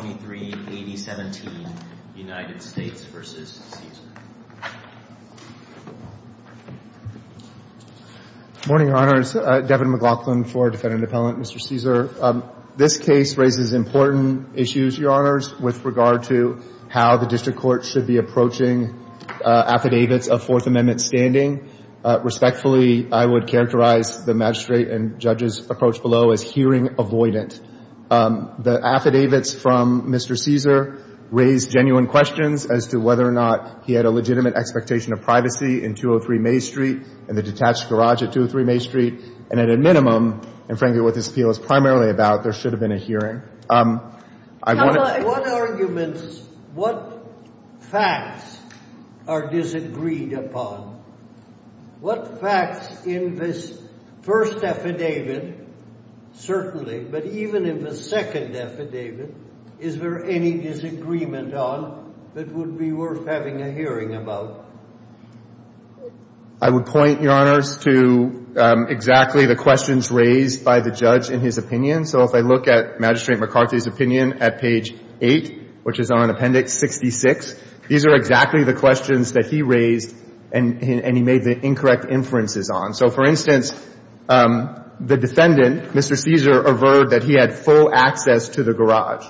Morning, Your Honors, Devin McLaughlin for Defendant Appellant, Mr. Caesar. This case raises important issues, Your Honors, with regard to how the district court should be approaching affidavits of Fourth Amendment standing. Respectfully, I would characterize the magistrate and judge's approach below as hearing avoidant. The affidavits from Mr. Caesar raise genuine questions as to whether or not he had a legitimate expectation of privacy in 203 Main Street and the detached garage at 203 Main Street. And at a minimum, and frankly what this appeal is primarily about, there should have been a hearing. I want to — What arguments, what facts are disagreed upon? What facts in this first affidavit, certainly, but even in the second affidavit, is there any disagreement on that would be worth having a hearing about? I would point, Your Honors, to exactly the questions raised by the judge in his opinion. So if I look at Magistrate McCarthy's opinion at page 8, which is on Appendix 66, these are exactly the questions that he raised and he made the incorrect inferences on. So, for instance, the defendant, Mr. Caesar, averred that he had full access to the garage.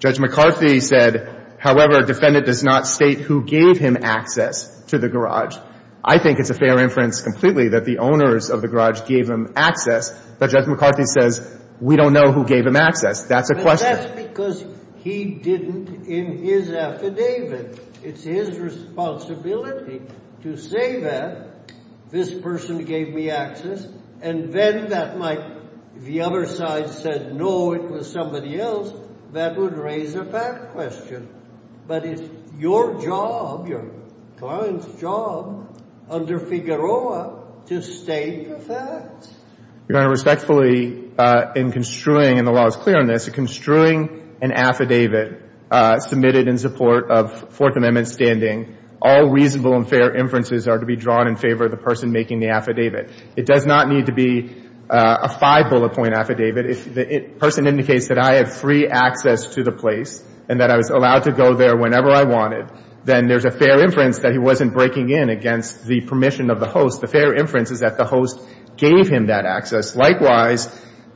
Judge McCarthy said, however, defendant does not state who gave him access to the garage. I think it's a fair inference completely that the owners of the garage gave him access, but Judge McCarthy says we don't know who gave him access. That's a question. That's because he didn't in his affidavit. It's his responsibility to say that, this person gave me access, and then that might — if the other side said, no, it was somebody else, that would raise a fact question. But it's your job, your client's job, under Figueroa, to state the facts. Your Honor, respectfully, in construing — and the law is clear on this — in construing an affidavit submitted in support of Fourth Amendment standing, all reasonable and fair inferences are to be drawn in favor of the person making the affidavit. It does not need to be a five-bullet-point affidavit. If the person indicates that I have free access to the place and that I was allowed to go there whenever I wanted, then there's a fair inference that he wasn't breaking in against the permission of the host. The fair inference is that the host gave him that access. Likewise,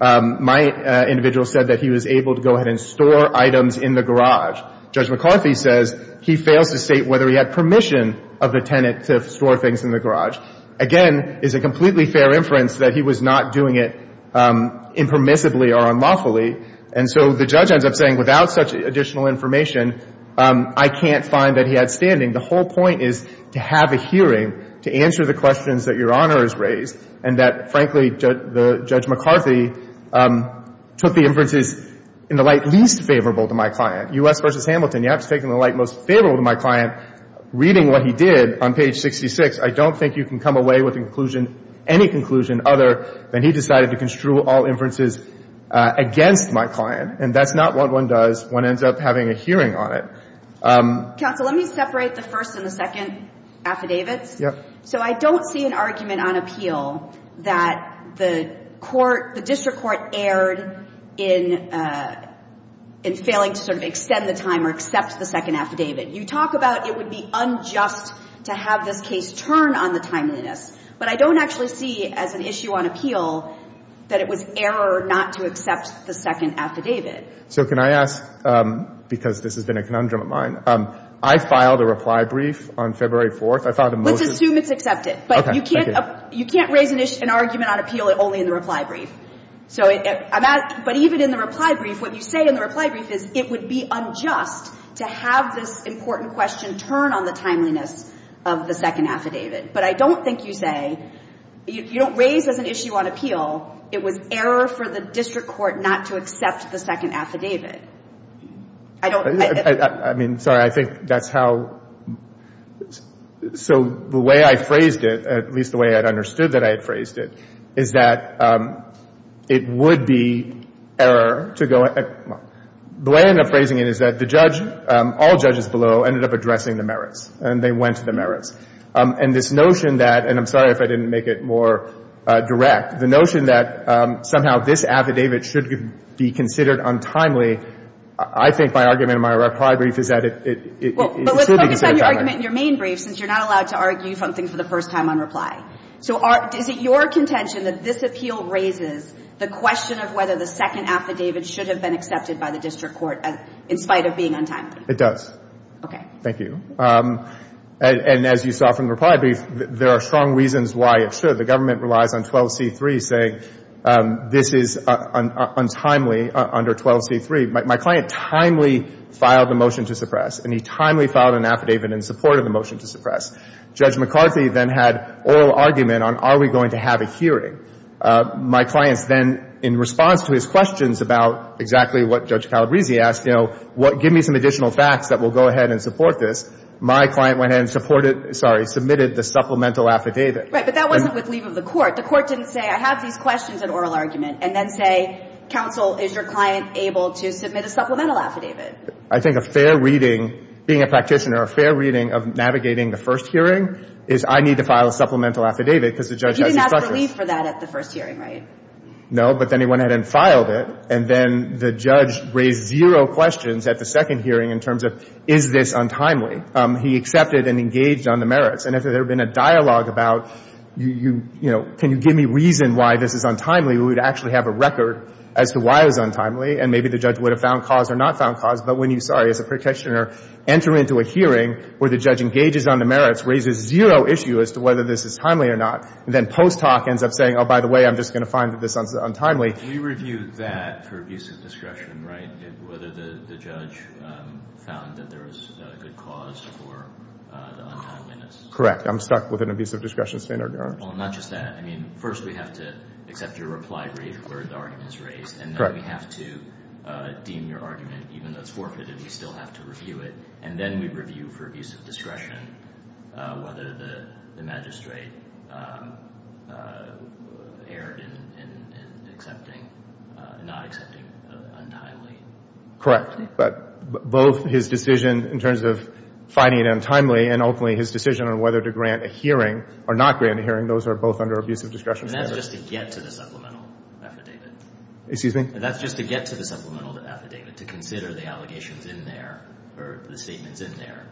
my individual said that he was able to go ahead and store items in the garage. Judge McCarthy says he fails to state whether he had permission of the tenant to store things in the garage. Again, it's a completely fair inference that he was not doing it impermissibly or unlawfully. And so the judge ends up saying, without such additional information, I can't find that he had standing. The whole point is to have a hearing to answer the questions that Your Honor has raised and that, frankly, the Judge McCarthy took the inferences in the light least favorable to my client. U.S. v. Hamilton, you have to take them in the light most favorable to my client. Reading what he did on page 66, I don't think you can come away with a conclusion, any conclusion other than he decided to construe all inferences against my client. And that's not what one does when one ends up having a hearing on it. Counsel, let me separate the first and the second affidavits. Yeah. So I don't see an argument on appeal that the court, the district court erred in failing to sort of extend the time or accept the second affidavit. You talk about it would be unjust to have this case turn on the timeliness. But I don't actually see as an issue on appeal that it was error not to accept the second affidavit. So can I ask, because this has been a conundrum of mine, I filed a reply brief on February 4th. I filed a motion. Let's assume it's accepted. Okay. But you can't raise an argument on appeal only in the reply brief. So I'm asking, but even in the reply brief, what you say in the reply brief is it would be unjust to have this important question turn on the timeliness of the second affidavit. But I don't think you say, you don't raise as an issue on appeal it was error for the district court not to accept the second affidavit. I don't. I mean, sorry, I think that's how. So the way I phrased it, at least the way I understood that I had phrased it, is that it would be error to go. The way I ended up phrasing it is that the judge, all judges below, ended up addressing the merits, and they went to the merits. And this notion that, and I'm sorry if I didn't make it more direct, the notion that somehow this affidavit should be considered untimely, I think my argument in my reply brief is that it should be considered untimely. Well, but let's focus on your argument in your main brief, since you're not allowed to argue something for the first time on reply. So is it your contention that this appeal raises the question of whether the second affidavit should have been accepted by the district court in spite of being untimely? It does. Okay. Thank you. And as you saw from the reply brief, there are strong reasons why it should. The government relies on 12C3 saying this is untimely under 12C3. My client timely filed a motion to suppress, and he timely filed an affidavit in support of the motion to suppress. Judge McCarthy then had oral argument on are we going to have a hearing. My clients then, in response to his questions about exactly what Judge Calabresi asked, you know, give me some additional facts that will go ahead and support this, my client went ahead and supported, sorry, submitted the supplemental affidavit. Right. But that wasn't with leave of the court. The court didn't say, I have these questions at oral argument, and then say, counsel, is your client able to submit a supplemental affidavit? I think a fair reading, being a practitioner, a fair reading of navigating the first hearing is I need to file a supplemental affidavit because the judge has to suppress it. You didn't ask for leave for that at the first hearing, right? No. But then he went ahead and filed it, and then the judge raised zero questions at the second hearing in terms of is this untimely. He accepted and engaged on the merits. And if there had been a dialogue about, you know, can you give me reason why this is untimely, we would actually have a record as to why it was untimely, and maybe the judge would have found cause or not found cause. But when you, sorry, as a practitioner, enter into a hearing where the judge engages on the merits, raises zero issue as to whether this is timely or not, and then post talk ends up saying, oh, by the way, I'm just going to find that this is untimely. We reviewed that for abuse of discretion, right, whether the judge found that there was a good cause for the untimeliness. Correct. I'm stuck with an abuse of discretion standard, Your Honor. Well, not just that. I mean, first we have to accept your reply rate where the argument is raised. And then we have to deem your argument, even though it's forfeited, we still have to review it, and then we review for abuse of discretion whether the magistrate erred in accepting, not accepting untimely. Correct. But both his decision in terms of finding it untimely and ultimately his decision on whether to grant a hearing or not grant a hearing, those are both under abuse of discretion. And that's just to get to the supplemental affidavit. Excuse me? That's just to get to the supplemental affidavit, to consider the allegations in there or the statements in there.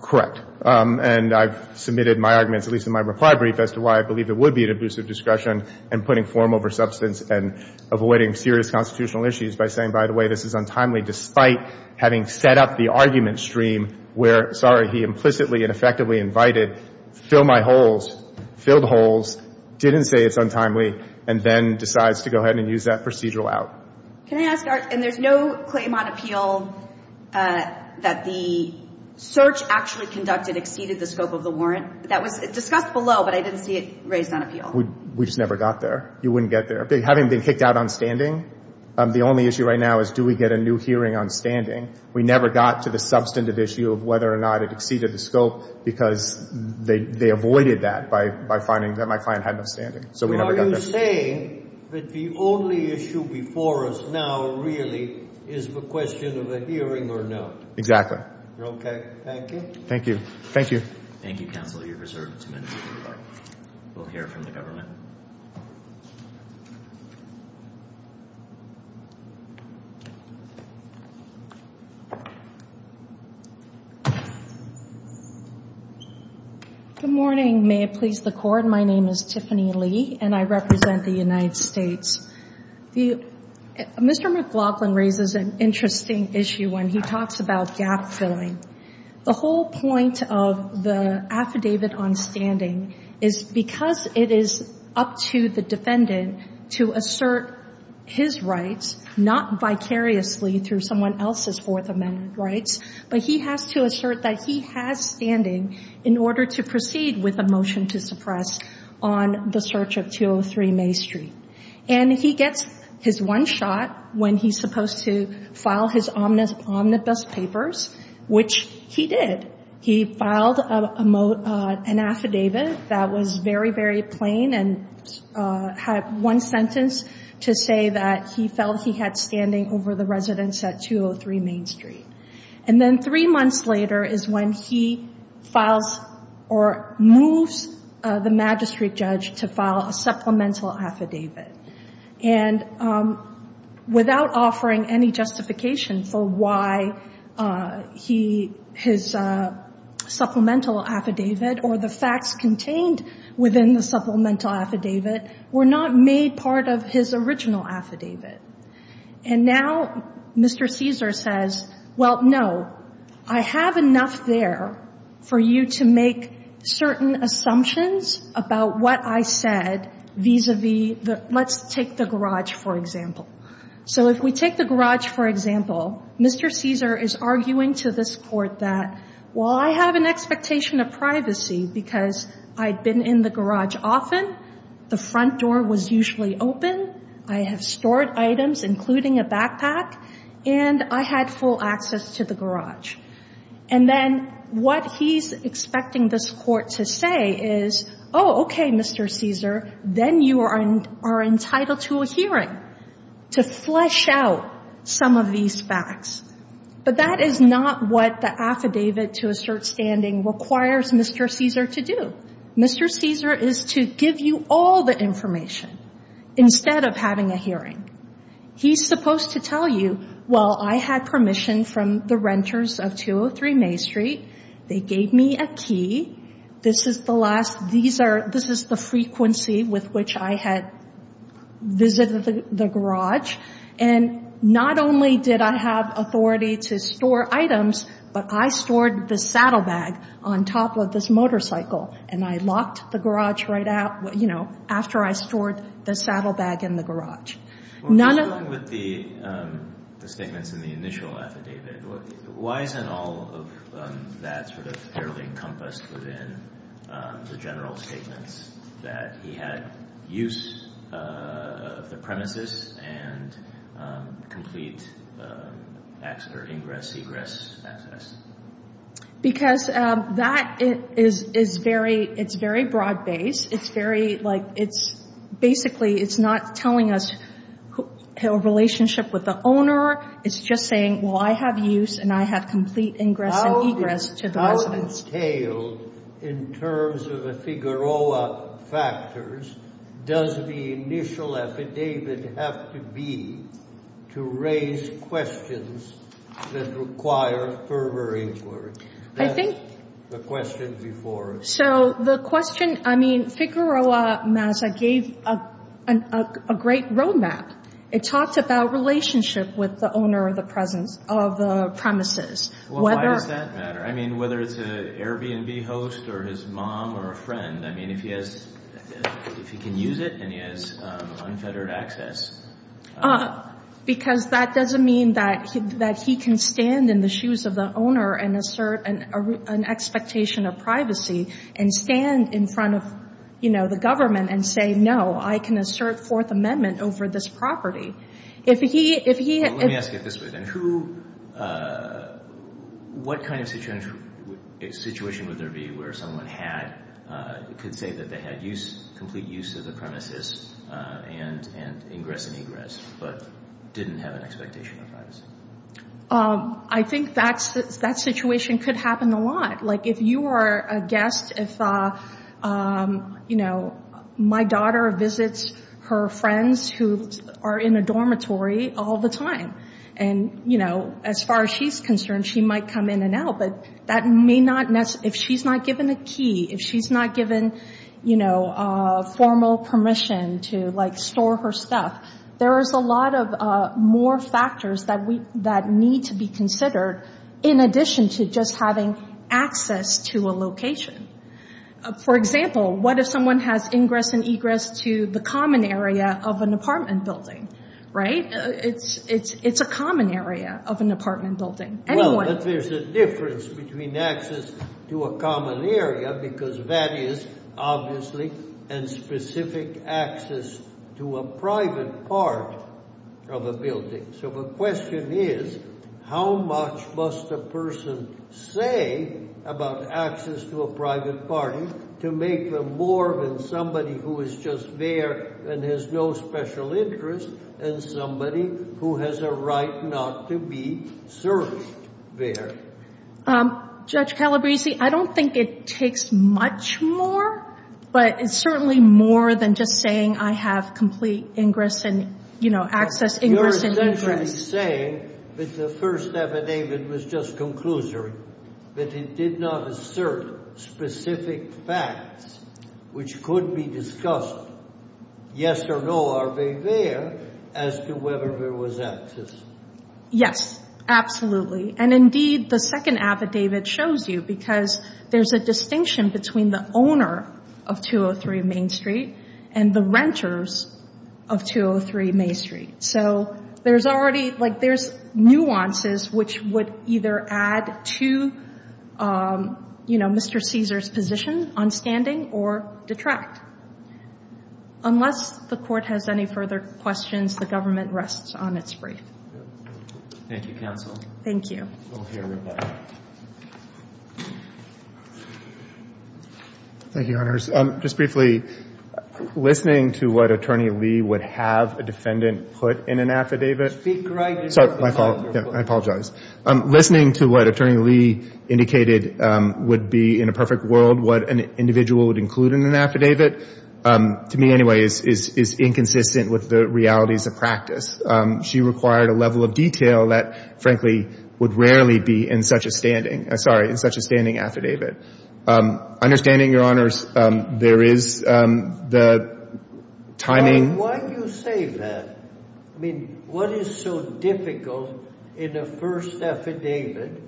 Correct. And I've submitted my arguments, at least in my reply brief, as to why I believe it would be an abuse of discretion and putting form over substance and avoiding serious constitutional issues by saying, by the way, this is untimely despite having set up the argument stream where, sorry, he implicitly and effectively invited, fill my holes, filled holes, didn't say it's untimely, and then decides to go ahead and use that procedural out. Can I ask, and there's no claim on appeal that the search actually conducted exceeded the scope of the warrant? That was discussed below, but I didn't see it raised on appeal. We just never got there. You wouldn't get there. Having been kicked out on standing, the only issue right now is do we get a new hearing on standing? We never got to the substantive issue of whether or not it exceeded the scope because they avoided that by finding that my client had no standing. So we never got there. So are you saying that the only issue before us now really is the question of a hearing or no? Exactly. Okay. Thank you. Thank you. Thank you. Thank you, counsel. You're reserved two minutes to reply. We'll hear from the government. Good morning. May it please the Court. My name is Tiffany Lee, and I represent the United States. Mr. McLaughlin raises an interesting issue when he talks about gap filling. The whole point of the affidavit on standing is because it is up to the defendant to assert his rights, not vicariously through someone else's Fourth Amendment rights, but he has to assert that he has standing in order to proceed with a motion to suppress on the search of 203 Main Street. And he gets his one shot when he's supposed to file his omnibus papers, which he did. He filed an affidavit that was very, very plain and had one sentence to say that he had standing over the residence at 203 Main Street. And then three months later is when he files or moves the magistrate judge to file a supplemental affidavit. And without offering any justification for why his supplemental affidavit or the facts And now Mr. Cesar says, well, no, I have enough there for you to make certain assumptions about what I said vis-a-vis the – let's take the garage, for example. So if we take the garage, for example, Mr. Cesar is arguing to this Court that while I have an expectation of privacy because I've been in the garage often, the front door was usually open, I have stored items, including a backpack, and I had full access to the garage. And then what he's expecting this Court to say is, oh, okay, Mr. Cesar, then you are entitled to a hearing to flesh out some of these facts. But that is not what the affidavit to assert standing requires Mr. Cesar to do. Mr. Cesar is to give you all the information instead of having a hearing. He's supposed to tell you, well, I had permission from the renters of 203 Main Street. They gave me a key. This is the last – these are – this is the frequency with which I had visited the And not only did I have authority to store items, but I stored the saddlebag on top of this motorcycle, and I locked the garage right out, you know, after I stored the saddlebag in the garage. None of – Well, just along with the statements in the initial affidavit, why isn't all of that sort of fairly encompassed within the general statements that he had use of the premises and complete ingress-egress access? Because that is very – it's very broad-based. It's very – like, it's – basically, it's not telling us a relationship with the owner. It's just saying, well, I have use, and I have complete ingress-egress to the residents. How entailed in terms of the Figueroa factors does the initial affidavit have to be to raise questions that require further inquiry? That's the question before us. So the question – I mean, Figueroa, Mazza, gave a great roadmap. It talks about relationship with the owner of the presence – of the premises. Well, why does that matter? I mean, whether it's an Airbnb host or his mom or a friend, I mean, if he has – if he can use it and he has unfettered access. Because that doesn't mean that he can stand in the shoes of the owner and assert an expectation of privacy and stand in front of, you know, the government and say, no, I can assert Fourth Amendment over this property. If he – Let me ask it this way, then. Who – what kind of situation would there be where someone had – could say that they had complete use of the premises and ingress and egress but didn't have an expectation of privacy? I think that situation could happen a lot. Like, if you are a guest, if, you know, my daughter visits her friends who are in a dormitory all the time, and, you know, as far as she's concerned, she might come in and out. But that may not – if she's not given a key, if she's not given, you know, formal permission to, like, store her stuff, there is a lot of more factors that need to be considered in addition to just having access to a location. For example, what if someone has ingress and egress to the common area of an apartment building, right? It's a common area of an apartment building. Well, but there's a difference between access to a common area, because that is, obviously, and specific access to a private part of a building. So the question is, how much must a person say about access to a private party to make them more than somebody who is just there and has no special interest and somebody who has a right not to be served there? Judge Calabresi, I don't think it takes much more, but it's certainly more than just saying, I have complete ingress and, you know, access, ingress and egress. But you're essentially saying that the first affidavit was just conclusory, that it did not assert specific facts, which could be discussed, yes or no, are they there, as to whether there was access? Yes, absolutely. And indeed, the second affidavit shows you, because there's a distinction between the owner of 203 Main Street and the renters of 203 Main Street. So there's already, like, there's nuances which would either add to, you know, Mr. Caesar's position on standing or detract. Unless the court has any further questions, the government rests on its brief. Thank you, counsel. Thank you. We'll hear right back. Thank you, Your Honors. Just briefly, listening to what Attorney Lee would have a defendant put in an affidavit. Speak right. Sorry, my fault. I apologize. Listening to what Attorney Lee indicated would be, in a perfect world, what an individual would include in an affidavit, to me, anyway, is inconsistent with the realities of practice. She required a level of detail that, frankly, would rarely be in such a standing, sorry, in such a standing affidavit. Understanding, Your Honors, there is the timing. Why do you say that? I mean, what is so difficult in a first affidavit,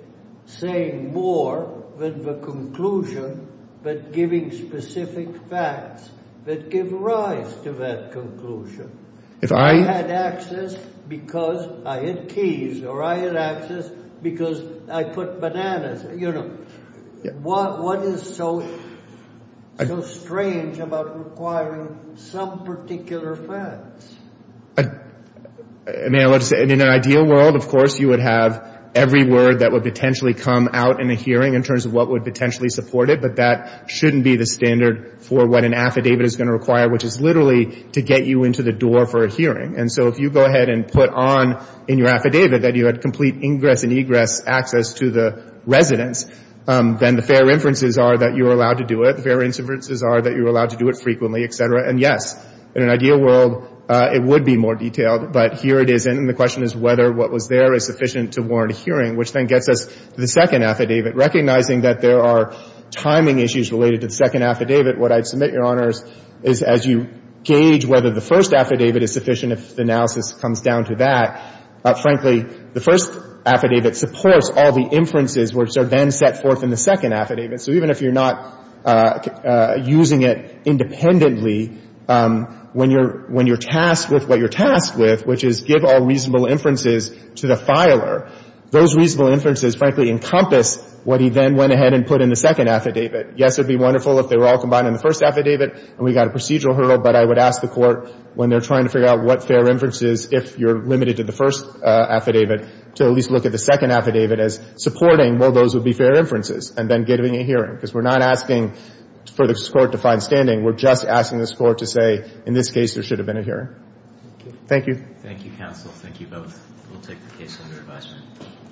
saying more than the conclusion, but giving specific facts that give rise to that conclusion? If I had access because I had keys or I had access because I put bananas, you know, what is so strange about requiring some particular facts? May I let you say, in an ideal world, of course, you would have every word that would potentially come out in a hearing in terms of what would potentially support it. But that shouldn't be the standard for what an affidavit is going to require, which is literally to get you into the door for a hearing. And so if you go ahead and put on in your affidavit that you had complete ingress and egress access to the residence, then the fair inferences are that you are allowed to do it. The fair inferences are that you are allowed to do it frequently, et cetera. And yes, in an ideal world, it would be more detailed. But here it isn't. And the question is whether what was there is sufficient to warrant a hearing, which then gets us to the second affidavit. Recognizing that there are timing issues related to the second affidavit, what I'd submit, Your Honors, is as you gauge whether the first affidavit is sufficient, if the analysis comes down to that, frankly, the first affidavit supports all the inferences which are then set forth in the second affidavit. So even if you're not using it independently, when you're tasked with what you're tasked with, which is give all reasonable inferences to the filer, those reasonable inferences, frankly, encompass what he then went ahead and put in the second affidavit. Yes, it would be wonderful if they were all combined in the first affidavit and we got a procedural hurdle. But I would ask the Court, when they're trying to figure out what fair inferences, if you're limited to the first affidavit, to at least look at the second affidavit as supporting, well, those would be fair inferences, and then giving a hearing. Because we're not asking for this Court to find standing. We're just asking this Court to say, in this case, there should have been a hearing. Thank you. Thank you, counsel. Thank you both. We'll take the case under advisement.